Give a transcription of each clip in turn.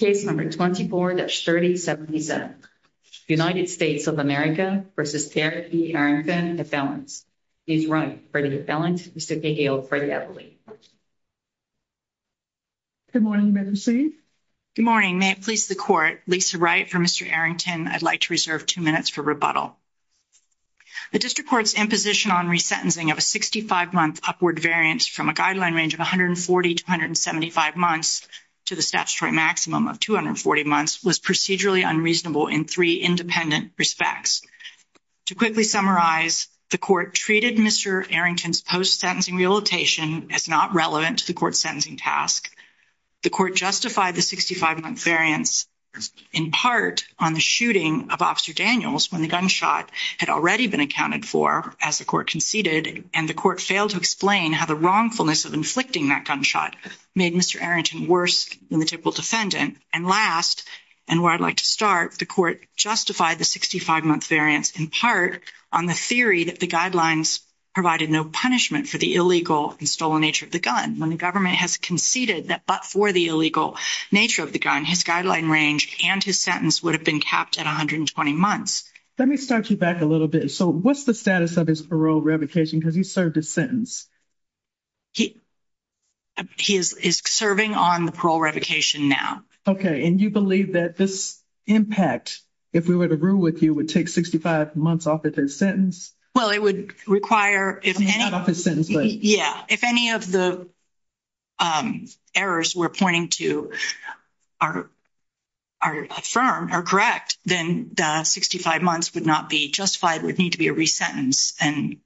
24-3077 United States of America v. Derrick B. Arrington, DeFellants Ms. Wright v. DeFellants, Mr. Cahill v. Eberle Good morning, Madam Chief Good morning. May it please the Court, Lisa Wright v. Mr. Arrington, I'd like to reserve two minutes for rebuttal. The District Court's imposition on resentencing of a 65-month upward variance from a guideline range of 140 to 175 months to the statutory maximum of 240 months was procedurally unreasonable in three independent respects. To quickly summarize, the Court treated Mr. Arrington's post-sentencing rehabilitation as not relevant to the Court's sentencing task. The Court justified the 65-month variance in part on the shooting of Officer Daniels when the gunshot had already been accounted for as the Court conceded, and the Court failed to explain how the wrongfulness of inflicting that gunshot made Mr. Arrington worse than the typical defendant. And last, and where I'd like to start, the Court justified the 65-month variance in part on the theory that the guidelines provided no punishment for the illegal and stolen nature of the gun. When the government has conceded that but for the illegal nature of the gun, his guideline range and his sentence would have been capped at 120 months. Let me start you back a little bit. So what's the status of his parole revocation? Has he served his sentence? He is serving on the parole revocation now. Okay, and you believe that this impact, if we were to rule with you, would take 65 months off of his sentence? Well, it would require if any of the errors we're pointing to are confirmed or correct, then 65 months would not be justified. It would need to be a resentencing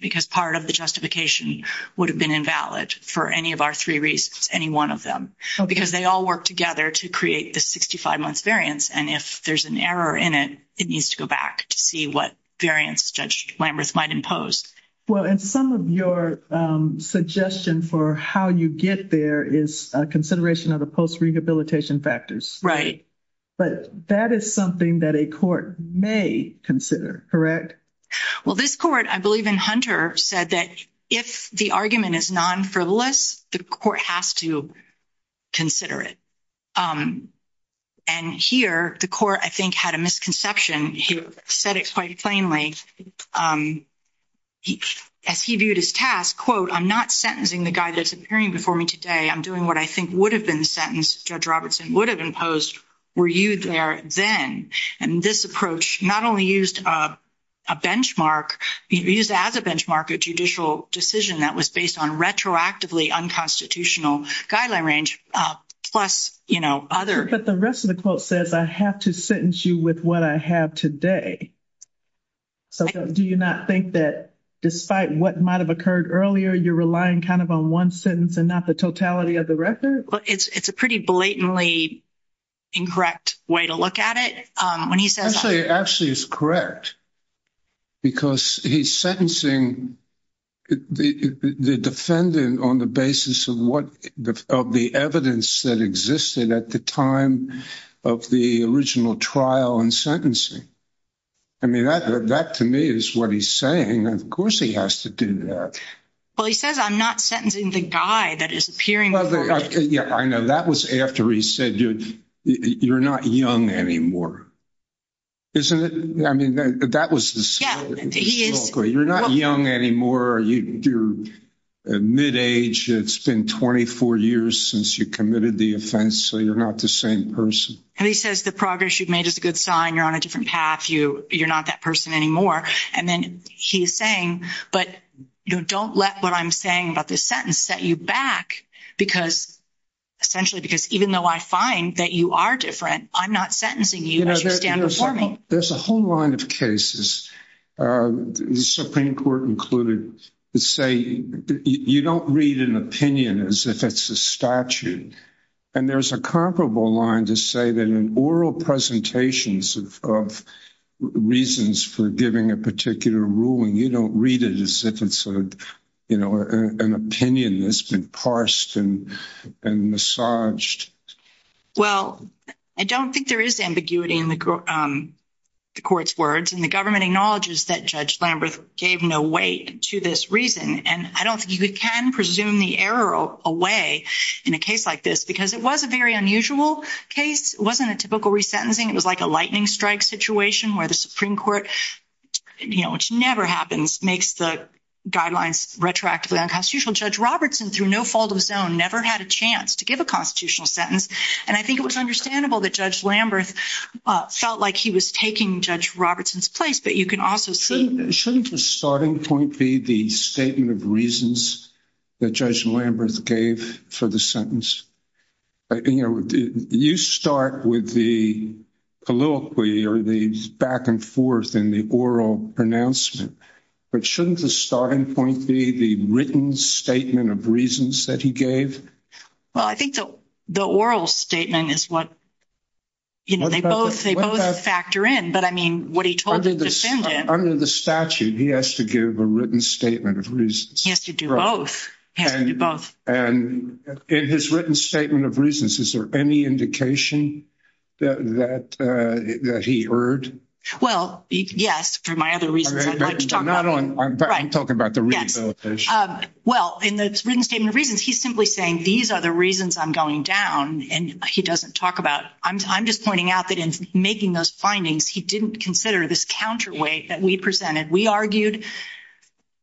because part of the justification would have been invalid for any of our three reasons, any one of them, because they all work together to create the 65-month variance, and if there's an error in it, it needs to go back to see what variance Judge Lamberth might impose. Well, and some of your suggestion for how you get there is consideration of the post-rehabilitation factors. Right. But that is something that a court may consider, correct? Well, this court, I believe in Hunter, said that if the argument is non-frivolous, the court has to consider it. And here, the court, I think, had a misconception. He said it quite plainly. As he viewed his task, quote, I'm not sentencing the guy that's appearing before me today. I'm doing what I think would have been the sentence Judge Robertson would have imposed were you there then. And this approach not only used a benchmark, used as a benchmark a judicial decision that was based on retroactively unconstitutional guideline range, plus, you know, other. But the rest of the quote says I have to sentence you with what I have today. So do you not think that despite what might have occurred earlier, you're relying kind of on one sentence and not the totality of the record? It's a pretty blatantly incorrect way to look at it. Actually, it's correct. Because he's sentencing the defendant on the basis of the evidence that existed at the time of the original trial and sentencing. I mean, that to me is what he's saying. Of course he has to do that. Well, he says, I'm not sentencing the guy that is appearing. Yeah, I know that was after he said, you're not young anymore. Isn't it? I mean, that was this. You're not young anymore. You're mid age. It's been 24 years since you committed the offense. So you're not the same person. And he says the progress you've made is a good sign. You're on a different path. You you're not that person anymore. And then he's saying, but don't let what I'm saying about this sentence set you back. Because essentially, because even though I find that you are different, I'm not sentencing you. There's a whole line of cases. The Supreme Court included to say you don't read an opinion as if it's a statute. And there's a comparable line to say that in oral presentations of reasons for giving a particular ruling, you don't read it as if it's an opinion that's been parsed and massaged. Well, I don't think there is ambiguity in the court's words. And the government acknowledges that Judge Lambert gave no weight to this reason. And I don't think you can presume the error away in a case like this because it was a very unusual case. It wasn't a typical resentencing. It was like a lightning strike situation where the Supreme Court, which never happens, makes the guidelines retroactively unconstitutional. Judge Robertson, through no fault of his own, never had a chance to give a constitutional sentence. And I think it was understandable that Judge Lambert felt like he was taking Judge Robertson's place. Shouldn't the starting point be the statement of reasons that Judge Lambert gave for the sentence? You start with the politically or the back and forth in the oral pronouncement. But shouldn't the starting point be the written statement of reasons that he gave? Well, I think the oral statement is what they both factor in. Under the statute, he has to give a written statement of reasons. He has to do both. And in his written statement of reasons, is there any indication that he erred? Well, yes, for my other reasons. I'm talking about the rehabilitation. Well, in the written statement of reasons, he's simply saying these are the reasons I'm going down. I'm just pointing out that in making those findings, he didn't consider this counterweight that we presented. We argued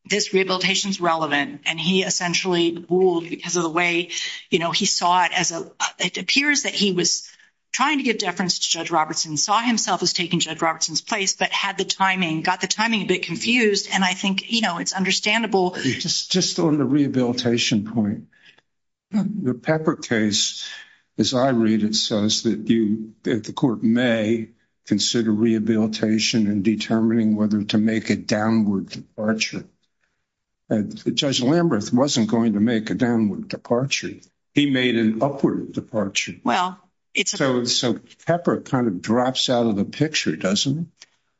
this rehabilitation is relevant. And he essentially ruled because of the way he saw it. It appears that he was trying to give deference to Judge Robertson, saw himself as taking Judge Robertson's place, but got the timing a bit confused. And I think it's understandable. Just on the rehabilitation point, the Pepper case, as I read it, says that the court may consider rehabilitation in determining whether to make a downward departure. Judge Lamberth wasn't going to make a downward departure. He made an upward departure. So Pepper kind of drops out of the picture, doesn't he?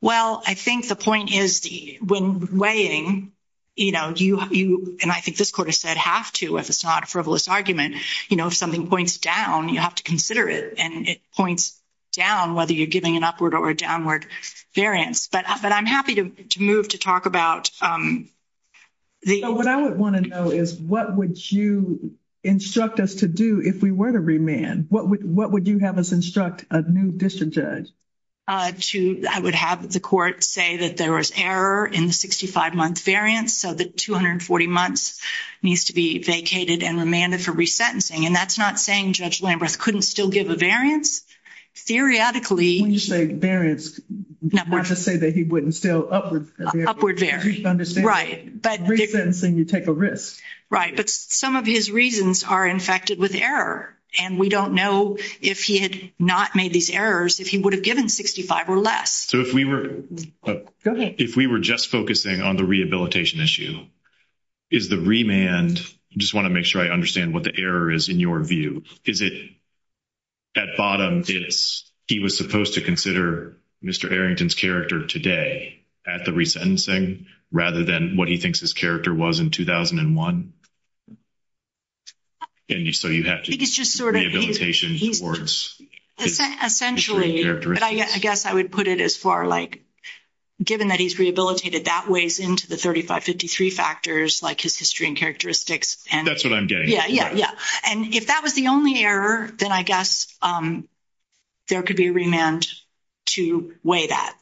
Well, I think the point is when weighing, you know, and I think this court has said have to if it's not a frivolous argument. You know, if something points down, you have to consider it. And it points down whether you're giving an upward or a downward variance. But I'm happy to move to talk about the… What I would want to know is what would you instruct us to do if we were to remand? What would you have us instruct a new district judge? I would have the court say that there was error in the 65-month variance, so the 240 months needs to be vacated and remanded for resentencing. And that's not saying Judge Lamberth couldn't still give a variance. Theoretically… When you say variance, not to say that he wouldn't still upward vary. Upward vary. Right. Resentencing, you take a risk. Right. But some of his reasons are infected with error. And we don't know if he had not made these errors if he would have given 65 or less. So if we were… Go ahead. If we were just focusing on the rehabilitation issue, is the remand… I just want to make sure I understand what the error is in your view. Is it at bottom it's he was supposed to consider Mr. Arrington's character today at the resentencing rather than what he thinks his character was in 2001? And so you have to… I think it's just sort of… Rehabilitation towards… Essentially, but I guess I would put it as far like given that he's rehabilitated, that weighs into the 3553 factors like his history and characteristics. That's what I'm getting. Yeah, yeah, yeah. And if that was the only error, then I guess there could be a remand to weigh that.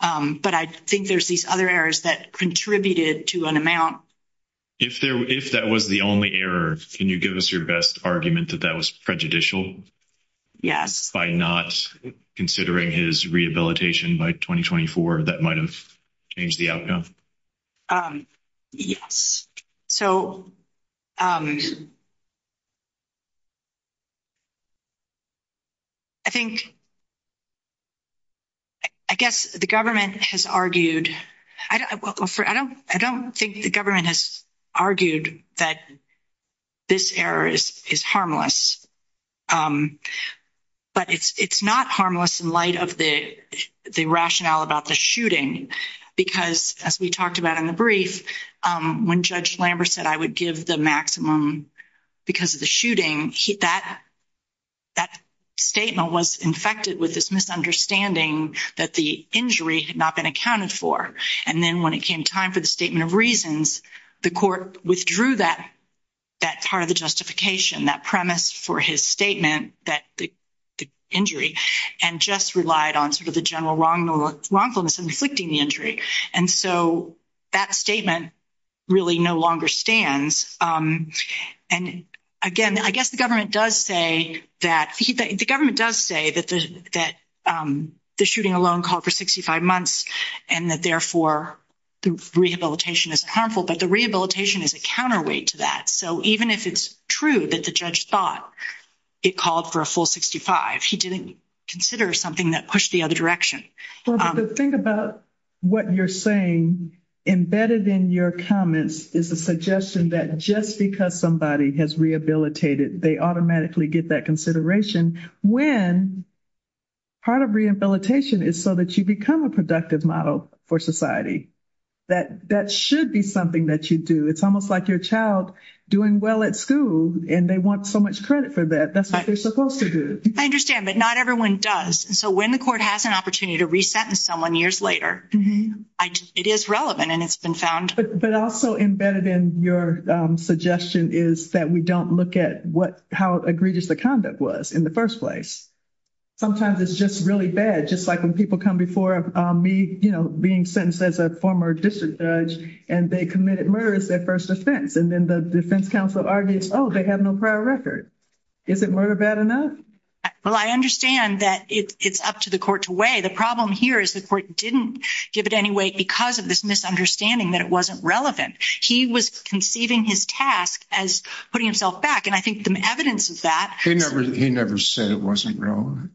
But I think there's these other errors that contributed to an amount. If that was the only error, can you give us your best argument that that was prejudicial? Yes. By not considering his rehabilitation by 2024, that might have changed the outcome? Yes. So I think… I guess the government has argued… I don't think the government has argued that this error is harmless, but it's not harmless in light of the rationale about the shooting because, as we talked about in the brief, when Judge Lambert said, I would give the maximum because of the shooting, that statement was infected with this misunderstanding that the injury had not been accounted for. And then when it came time for the statement of reasons, the court withdrew that part of the justification, that premise for his statement, the injury, and just relied on sort of the general wrongfulness in inflicting the injury. And so that statement really no longer stands. And again, I guess the government does say that the shooting alone called for 65 months and that therefore the rehabilitation is harmful, but the rehabilitation is a counterweight to that. So even if it's true that the judge thought it called for a full 65, he didn't consider something that pushed the other direction. Well, but the thing about what you're saying embedded in your comments is a suggestion that just because somebody has rehabilitated, they automatically get that consideration when part of rehabilitation is so that you become a productive model for society. That should be something that you do. It's almost like your child doing well at school and they want so much credit for that. That's what they're supposed to do. I understand, but not everyone does. So when the court has an opportunity to resentence someone years later, it is relevant and it's been found. But also embedded in your suggestion is that we don't look at how egregious the conduct was in the first place. Sometimes it's just really bad, just like when people come before me, you know, being sentenced as a former district judge and they committed murder as their first offense. And then the defense counsel argues, oh, they have no prior record. Is it murder bad enough? Well, I understand that it's up to the court to weigh. The problem here is the court didn't give it any weight because of this misunderstanding that it wasn't relevant. He was conceiving his task as putting himself back, and I think the evidence of that- He never said it wasn't relevant.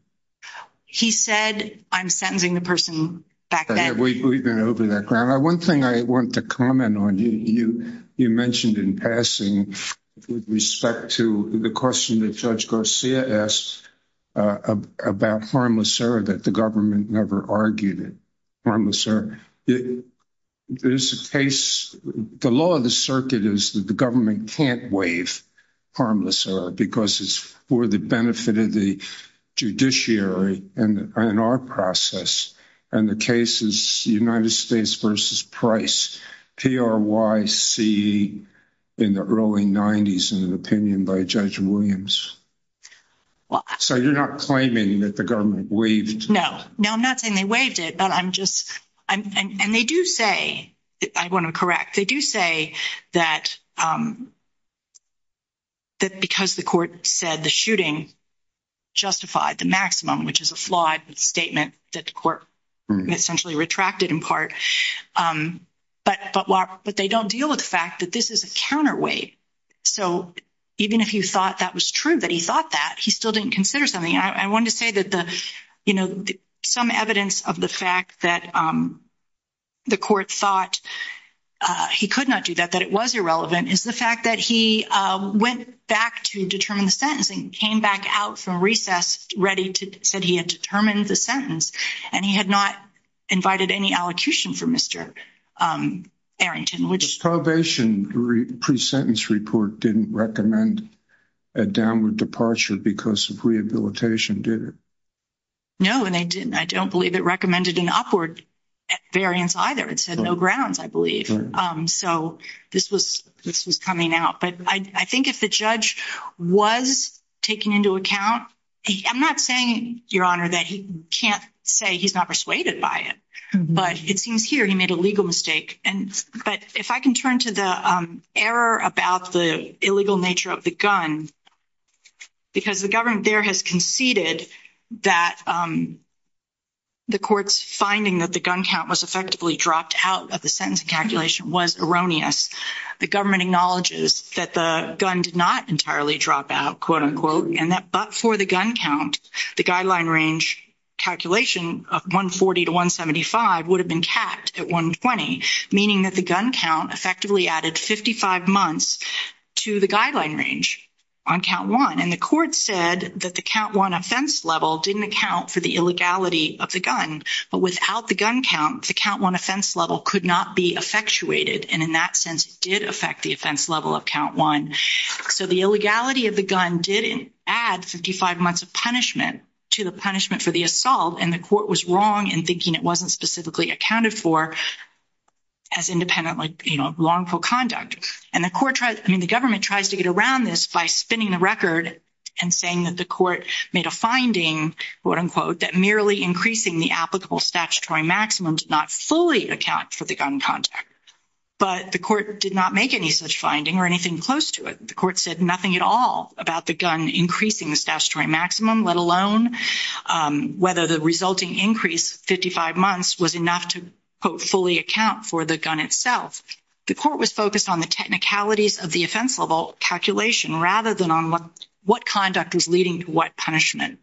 He said I'm sentencing the person back then. We've been over that ground. One thing I want to comment on, you mentioned in passing with respect to the question that Judge Garcia asked about harmless error that the government never argued it. Harmless error. There's a case, the law of the circuit is that the government can't waive harmless error because it's for the benefit of the judiciary and our process. And the case is United States versus Price, P-R-Y-C, in the early 90s in an opinion by Judge Williams. So you're not claiming that the government waived it? No. No, I'm not saying they waived it, but I'm just- and they do say, I want to correct, they do say that because the court said the shooting justified the maximum, which is a flawed statement that the court essentially retracted in part. But they don't deal with the fact that this is a counterweight. So even if you thought that was true, that he thought that, he still didn't consider something. I wanted to say that some evidence of the fact that the court thought he could not do that, that it was irrelevant, is the fact that he went back to determine the sentencing, came back out from recess ready to- said he had determined the sentence, and he had not invited any allocution for Mr. Arrington, which- The probation pre-sentence report didn't recommend a downward departure because of rehabilitation, did it? No, and they didn't. I don't believe it recommended an upward variance either. It said no grounds, I believe. So this was coming out. But I think if the judge was taking into account- I'm not saying, Your Honor, that he can't say he's not persuaded by it, but it seems here he made a legal mistake. But if I can turn to the error about the illegal nature of the gun, because the government there has conceded that the court's finding that the gun count was effectively dropped out of the sentencing calculation was erroneous. The government acknowledges that the gun did not entirely drop out, quote-unquote, and that but for the gun count, the guideline range calculation of 140 to 175 would have been capped at 120, meaning that the gun count effectively added 55 months to the guideline range on count one. And the court said that the count one offense level didn't account for the illegality of the gun, but without the gun count, the count one offense level could not be effectuated, and in that sense, it did affect the offense level of count one. So the illegality of the gun did add 55 months of punishment to the punishment for the assault, and the court was wrong in thinking it wasn't specifically accounted for as independent lawful conduct. And the government tries to get around this by spinning the record and saying that the court made a finding, quote-unquote, that merely increasing the applicable statutory maximum did not fully account for the gun contact, but the court did not make any such finding or anything close to it. The court said nothing at all about the gun increasing the statutory maximum, let alone whether the resulting increase, 55 months, was enough to, quote, fully account for the gun itself. The court was focused on the technicalities of the offense level calculation rather than on what conduct was leading to what punishment.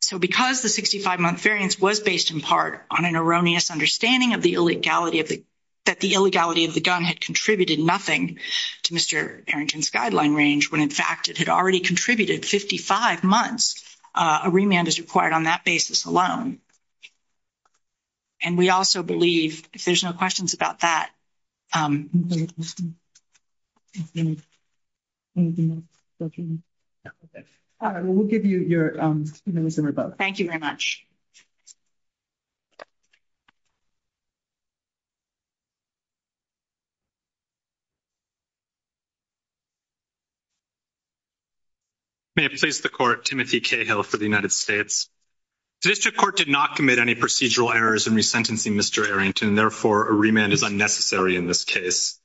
So because the 65-month variance was based in part on an erroneous understanding that the illegality of the gun had contributed nothing to Mr. Arrington's guideline range, when, in fact, it had already contributed 55 months, a remand is required on that basis alone. And we also believe, if there's no questions about that. All right, well, we'll give you your minutes in rebuttal. Thank you very much. May it please the court, Timothy Cahill for the United States. The district court did not commit any procedural errors in resentencing Mr. Arrington, and, therefore, a remand is unnecessary in this case.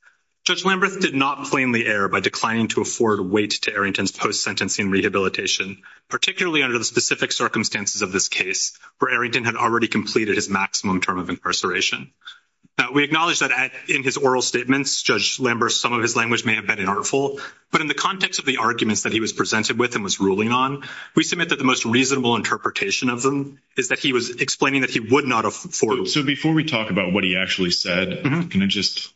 Judge Lamberth did not plainly err by declining to afford weight to Arrington's post-sentencing rehabilitation, particularly under the specific circumstances of this case, where Arrington had already completed his maximum term of incarceration. Now, we acknowledge that in his oral statements, Judge Lamberth, some of his language may have been inartful, but in the context of the arguments that he was presented with and was ruling on, we submit that the most reasonable interpretation of them is that he was explaining that he would not afford weight. So, before we talk about what he actually said, can I just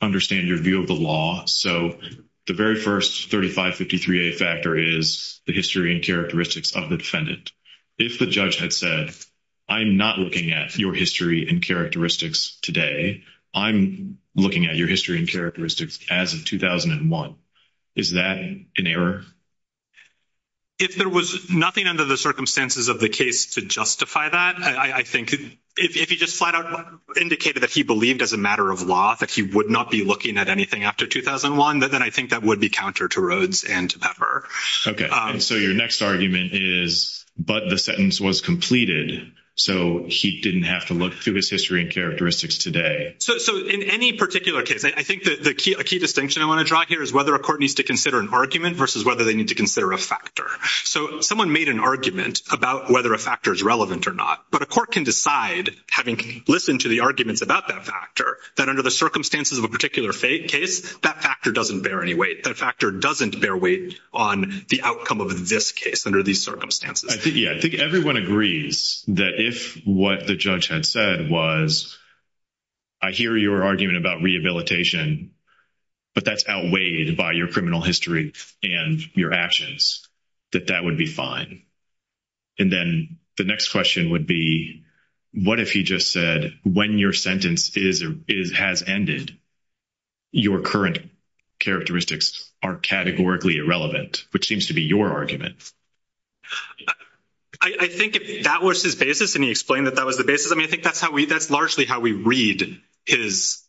understand your view of the law? So, the very first 3553A factor is the history and characteristics of the defendant. If the judge had said, I'm not looking at your history and characteristics today, I'm looking at your history and characteristics as of 2001, is that an error? If there was nothing under the circumstances of the case to justify that, I think if he just flat-out indicated that he believed as a matter of law that he would not be looking at anything after 2001, then I think that would be counter to Rhodes and to Pepper. Okay. So, your next argument is, but the sentence was completed, so he didn't have to look through his history and characteristics today. So, in any particular case, I think a key distinction I want to draw here is whether a court needs to consider an argument versus whether they need to consider a factor. So, someone made an argument about whether a factor is relevant or not, but a court can decide, having listened to the arguments about that factor, that under the circumstances of a particular case, that factor doesn't bear any weight. That factor doesn't bear weight on the outcome of this case under these circumstances. I think, yeah, I think everyone agrees that if what the judge had said was, I hear your argument about rehabilitation, but that's outweighed by your criminal history and your actions, that that would be fine. And then the next question would be, what if he just said, when your sentence has ended, your current characteristics are categorically irrelevant, which seems to be your argument. I think that was his basis, and he explained that that was the basis. I mean, I think that's largely how we read his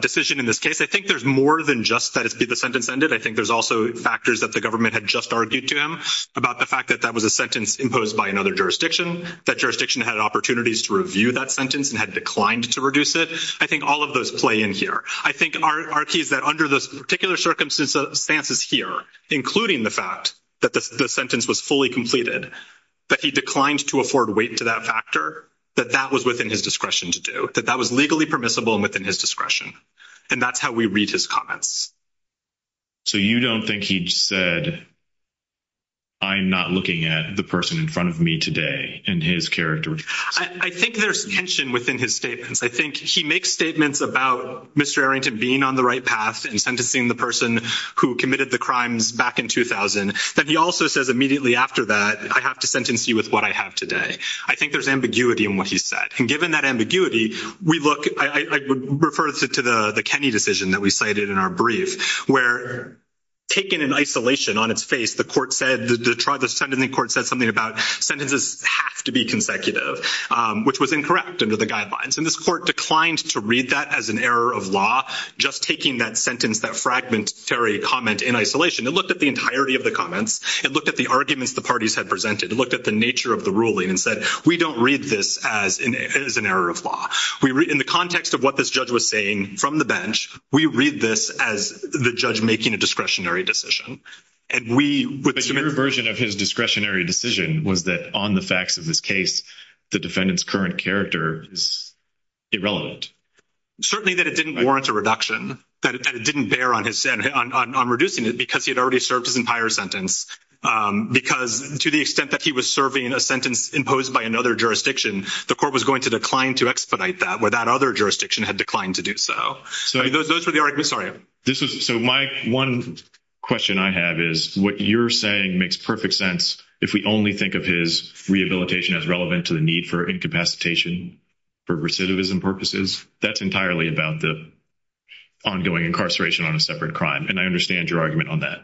decision in this case. I think there's more than just that it be the sentence ended. I think there's also factors that the government had just argued to him about the fact that that was a sentence imposed by another jurisdiction. That jurisdiction had opportunities to review that sentence and had declined to reduce it. I think all of those play in here. I think our key is that under those particular circumstances here, including the fact that the sentence was fully completed, that he declined to afford weight to that factor, that that was within his discretion to do. That that was legally permissible and within his discretion. And that's how we read his comments. So you don't think he said, I'm not looking at the person in front of me today and his characteristics? I think there's tension within his statements. I think he makes statements about Mr. Arrington being on the right path and sentencing the person who committed the crimes back in 2000, that he also says immediately after that, I have to sentence you with what I have today. I think there's ambiguity in what he said. And given that ambiguity, I would refer to the Kenney decision that we cited in our brief, where taken in isolation on its face, the court said something about sentences have to be consecutive, which was incorrect under the guidelines. And this court declined to read that as an error of law, just taking that sentence, that fragmentary comment in isolation. It looked at the entirety of the comments. It looked at the arguments the parties had presented. It looked at the nature of the ruling and said, we don't read this as an error of law. In the context of what this judge was saying from the bench, we read this as the judge making a discretionary decision. But your version of his discretionary decision was that on the facts of this case, the defendant's current character is irrelevant. Certainly that it didn't warrant a reduction, that it didn't bear on reducing it because he had already served his entire sentence. Because to the extent that he was serving a sentence imposed by another jurisdiction, the court was going to decline to expedite that where that other jurisdiction had declined to do so. Those were the arguments. So my one question I have is what you're saying makes perfect sense if we only think of his rehabilitation as relevant to the need for incapacitation for recidivism purposes. That's entirely about the ongoing incarceration on a separate crime. And I understand your argument on that.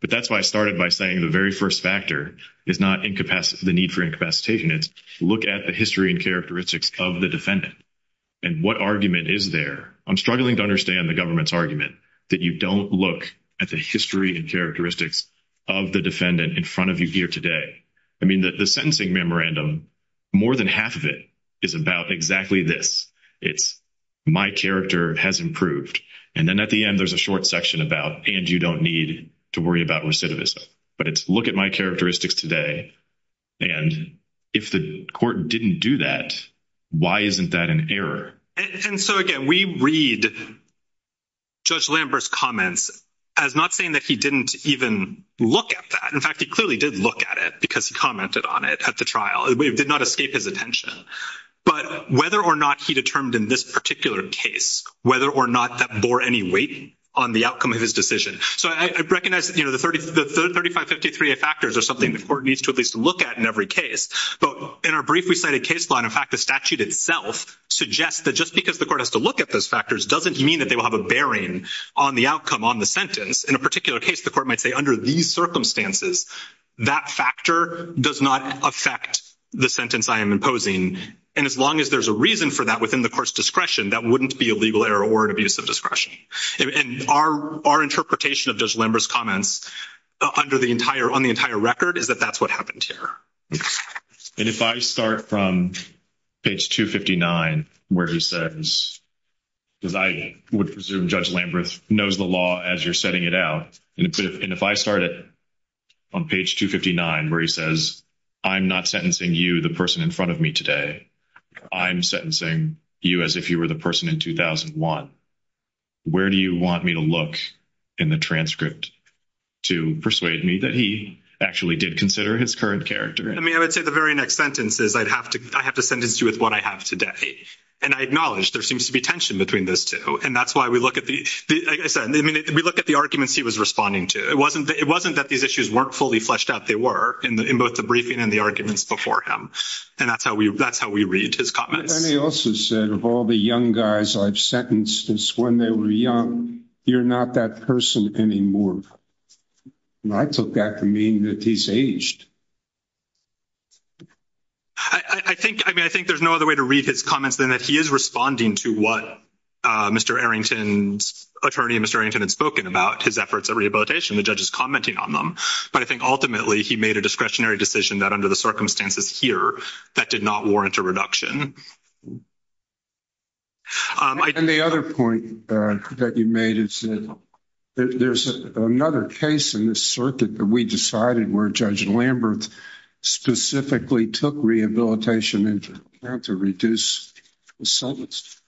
But that's why I started by saying the very first factor is not the need for incapacitation. It's look at the history and characteristics of the defendant and what argument is there. I'm struggling to understand the government's argument that you don't look at the history and characteristics of the defendant in front of you here today. I mean, the sentencing memorandum, more than half of it is about exactly this. It's my character has improved. And then at the end, there's a short section about and you don't need to worry about recidivism. But it's look at my characteristics today. And if the court didn't do that, why isn't that an error? And so, again, we read Judge Lambert's comments as not saying that he didn't even look at that. In fact, he clearly did look at it because he commented on it at the trial. It did not escape his attention. But whether or not he determined in this particular case, whether or not that bore any weight on the outcome of his decision. So I recognize, you know, the 3553A factors are something the court needs to at least look at in every case. But in our briefly cited case law, in fact, the statute itself suggests that just because the court has to look at those factors doesn't mean that they will have a bearing on the outcome, on the sentence. In a particular case, the court might say under these circumstances, that factor does not affect the sentence I am imposing. And as long as there's a reason for that within the court's discretion, that wouldn't be a legal error or an abuse of discretion. And our interpretation of Judge Lambert's comments under the entire, on the entire record is that that's what happened here. And if I start from page 259, where he says, because I would presume Judge Lambert knows the law as you're setting it out. And if I start it on page 259, where he says, I'm not sentencing you, the person in front of me today. I'm sentencing you as if you were the person in 2001. Where do you want me to look in the transcript to persuade me that he actually did consider his current character? I mean, I would say the very next sentence is I'd have to, I have to sentence you with what I have today. And I acknowledge there seems to be tension between those two. And that's why we look at the, I said, I mean, we look at the arguments he was responding to. It wasn't, it wasn't that these issues weren't fully fleshed out. They were in both the briefing and the arguments before him. And that's how we, that's how we read his comments. But then he also said, of all the young guys I've sentenced since when they were young, you're not that person anymore. And I took that to mean that he's aged. I think, I mean, I think there's no other way to read his comments than that he is responding to what Mr. Arrington's, attorney Mr. Arrington had spoken about his efforts at rehabilitation, the judge's commenting on them. But I think ultimately he made a discretionary decision that under the circumstances here, that did not warrant a reduction. And the other point that you made is that there's another case in this circuit that we decided where Judge Lambert specifically took rehabilitation into account to reduce the sentence.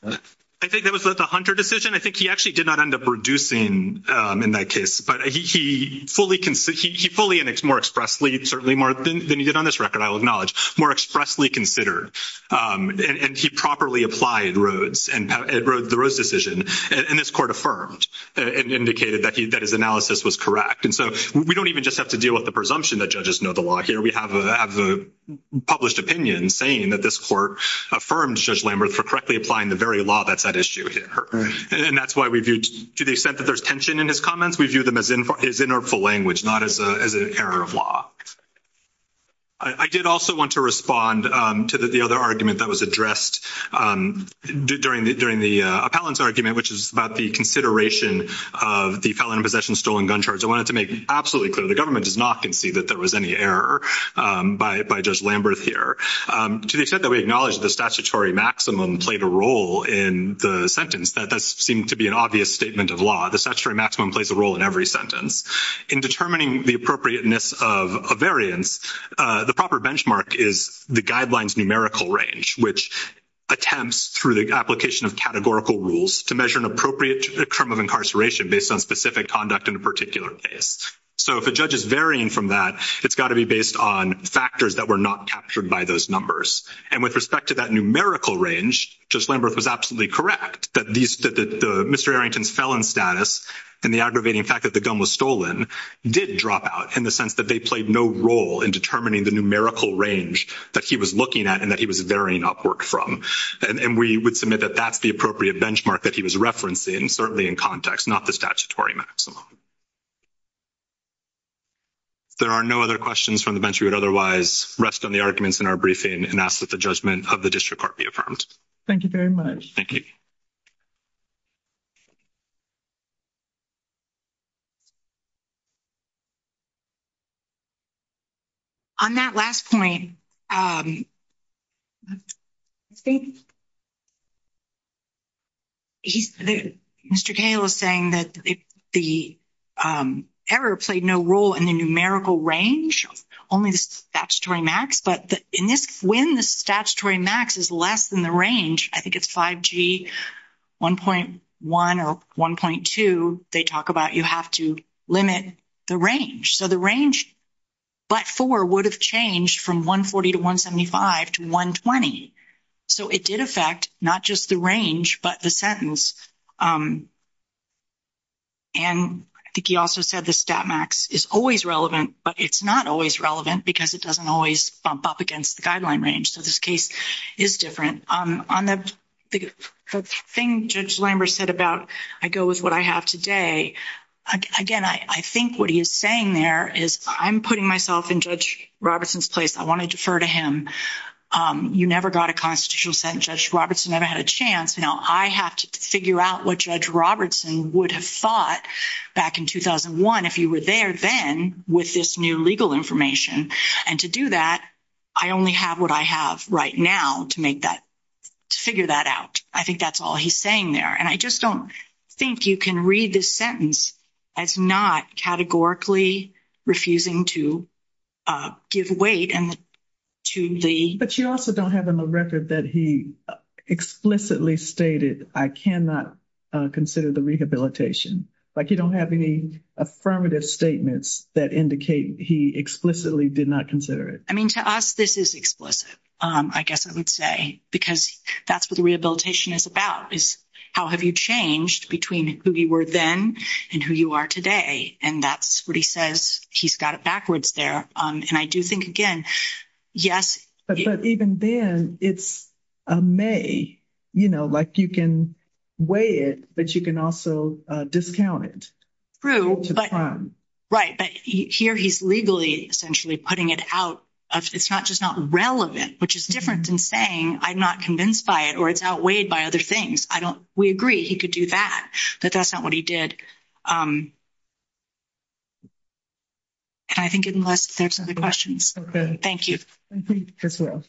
I think that was the Hunter decision. I think he actually did not end up reducing in that case. But he fully, he fully and more expressly, certainly more than he did on this record, I'll acknowledge, more expressly considered. And he properly applied Rhodes and the Rhodes decision. And this court affirmed and indicated that his analysis was correct. And so we don't even just have to deal with the presumption that judges know the law here. We have a published opinion saying that this court affirmed Judge Lambert for correctly applying the very law that's at issue here. And that's why we viewed, to the extent that there's tension in his comments, we view them as his inner full language, not as an error of law. I did also want to respond to the other argument that was addressed during the appellant's argument, which is about the consideration of the felon in possession stolen gun charge. I wanted to make absolutely clear, the government does not concede that there was any error by Judge Lambert here. To the extent that we acknowledge the statutory maximum played a role in the sentence, that does seem to be an obvious statement of law. The statutory maximum plays a role in every sentence. In determining the appropriateness of a variance, the proper benchmark is the guidelines numerical range, which attempts through the application of categorical rules to measure an appropriate term of incarceration based on specific conduct in a particular case. So if a judge is varying from that, it's got to be based on factors that were not captured by those numbers. And with respect to that numerical range, Judge Lambert was absolutely correct. Mr. Arrington's felon status and the aggravating fact that the gun was stolen did drop out in the sense that they played no role in determining the numerical range that he was looking at and that he was varying upward from. And we would submit that that's the appropriate benchmark that he was referencing, certainly in context, not the statutory maximum. There are no other questions from the bench we would otherwise rest on the arguments in our briefing and ask that the judgment of the district court be affirmed. Thank you very much. Thank you. On that last point, Mr. Cale is saying that the error played no role in the numerical range, only the statutory max. But in this, when the statutory max is less than the range, I think it's 5G 1.1 or 1.2, they talk about you have to limit the range. So the range but 4 would have changed from 140 to 175 to 120. So it did affect not just the range but the sentence. And I think he also said the stat max is always relevant, but it's not always relevant because it doesn't always bump up against the guideline range. So this case is different. On the thing Judge Lambert said about I go with what I have today, again, I think what he is saying there is I'm putting myself in Judge Robertson's place. I want to defer to him. You never got a constitutional sentence. Judge Robertson never had a chance. Now, I have to figure out what Judge Robertson would have thought back in 2001 if he were there then with this new legal information. And to do that, I only have what I have right now to make that, to figure that out. I think that's all he's saying there. And I just don't think you can read this sentence as not categorically refusing to give weight to the. But you also don't have in the record that he explicitly stated I cannot consider the rehabilitation. Like, you don't have any affirmative statements that indicate he explicitly did not consider it. I mean, to us, this is explicit, I guess I would say, because that's what the rehabilitation is about is how have you changed between who you were then and who you are today. And that's what he says. He's got it backwards there. And I do think, again, yes. But even then, it's a may, you know, like you can weigh it, but you can also discount it. True. Right. But here he's legally essentially putting it out. It's not just not relevant, which is different than saying I'm not convinced by it or it's outweighed by other things. We agree he could do that, but that's not what he did. And I think unless there's other questions. Okay. Thank you. Thank you as well.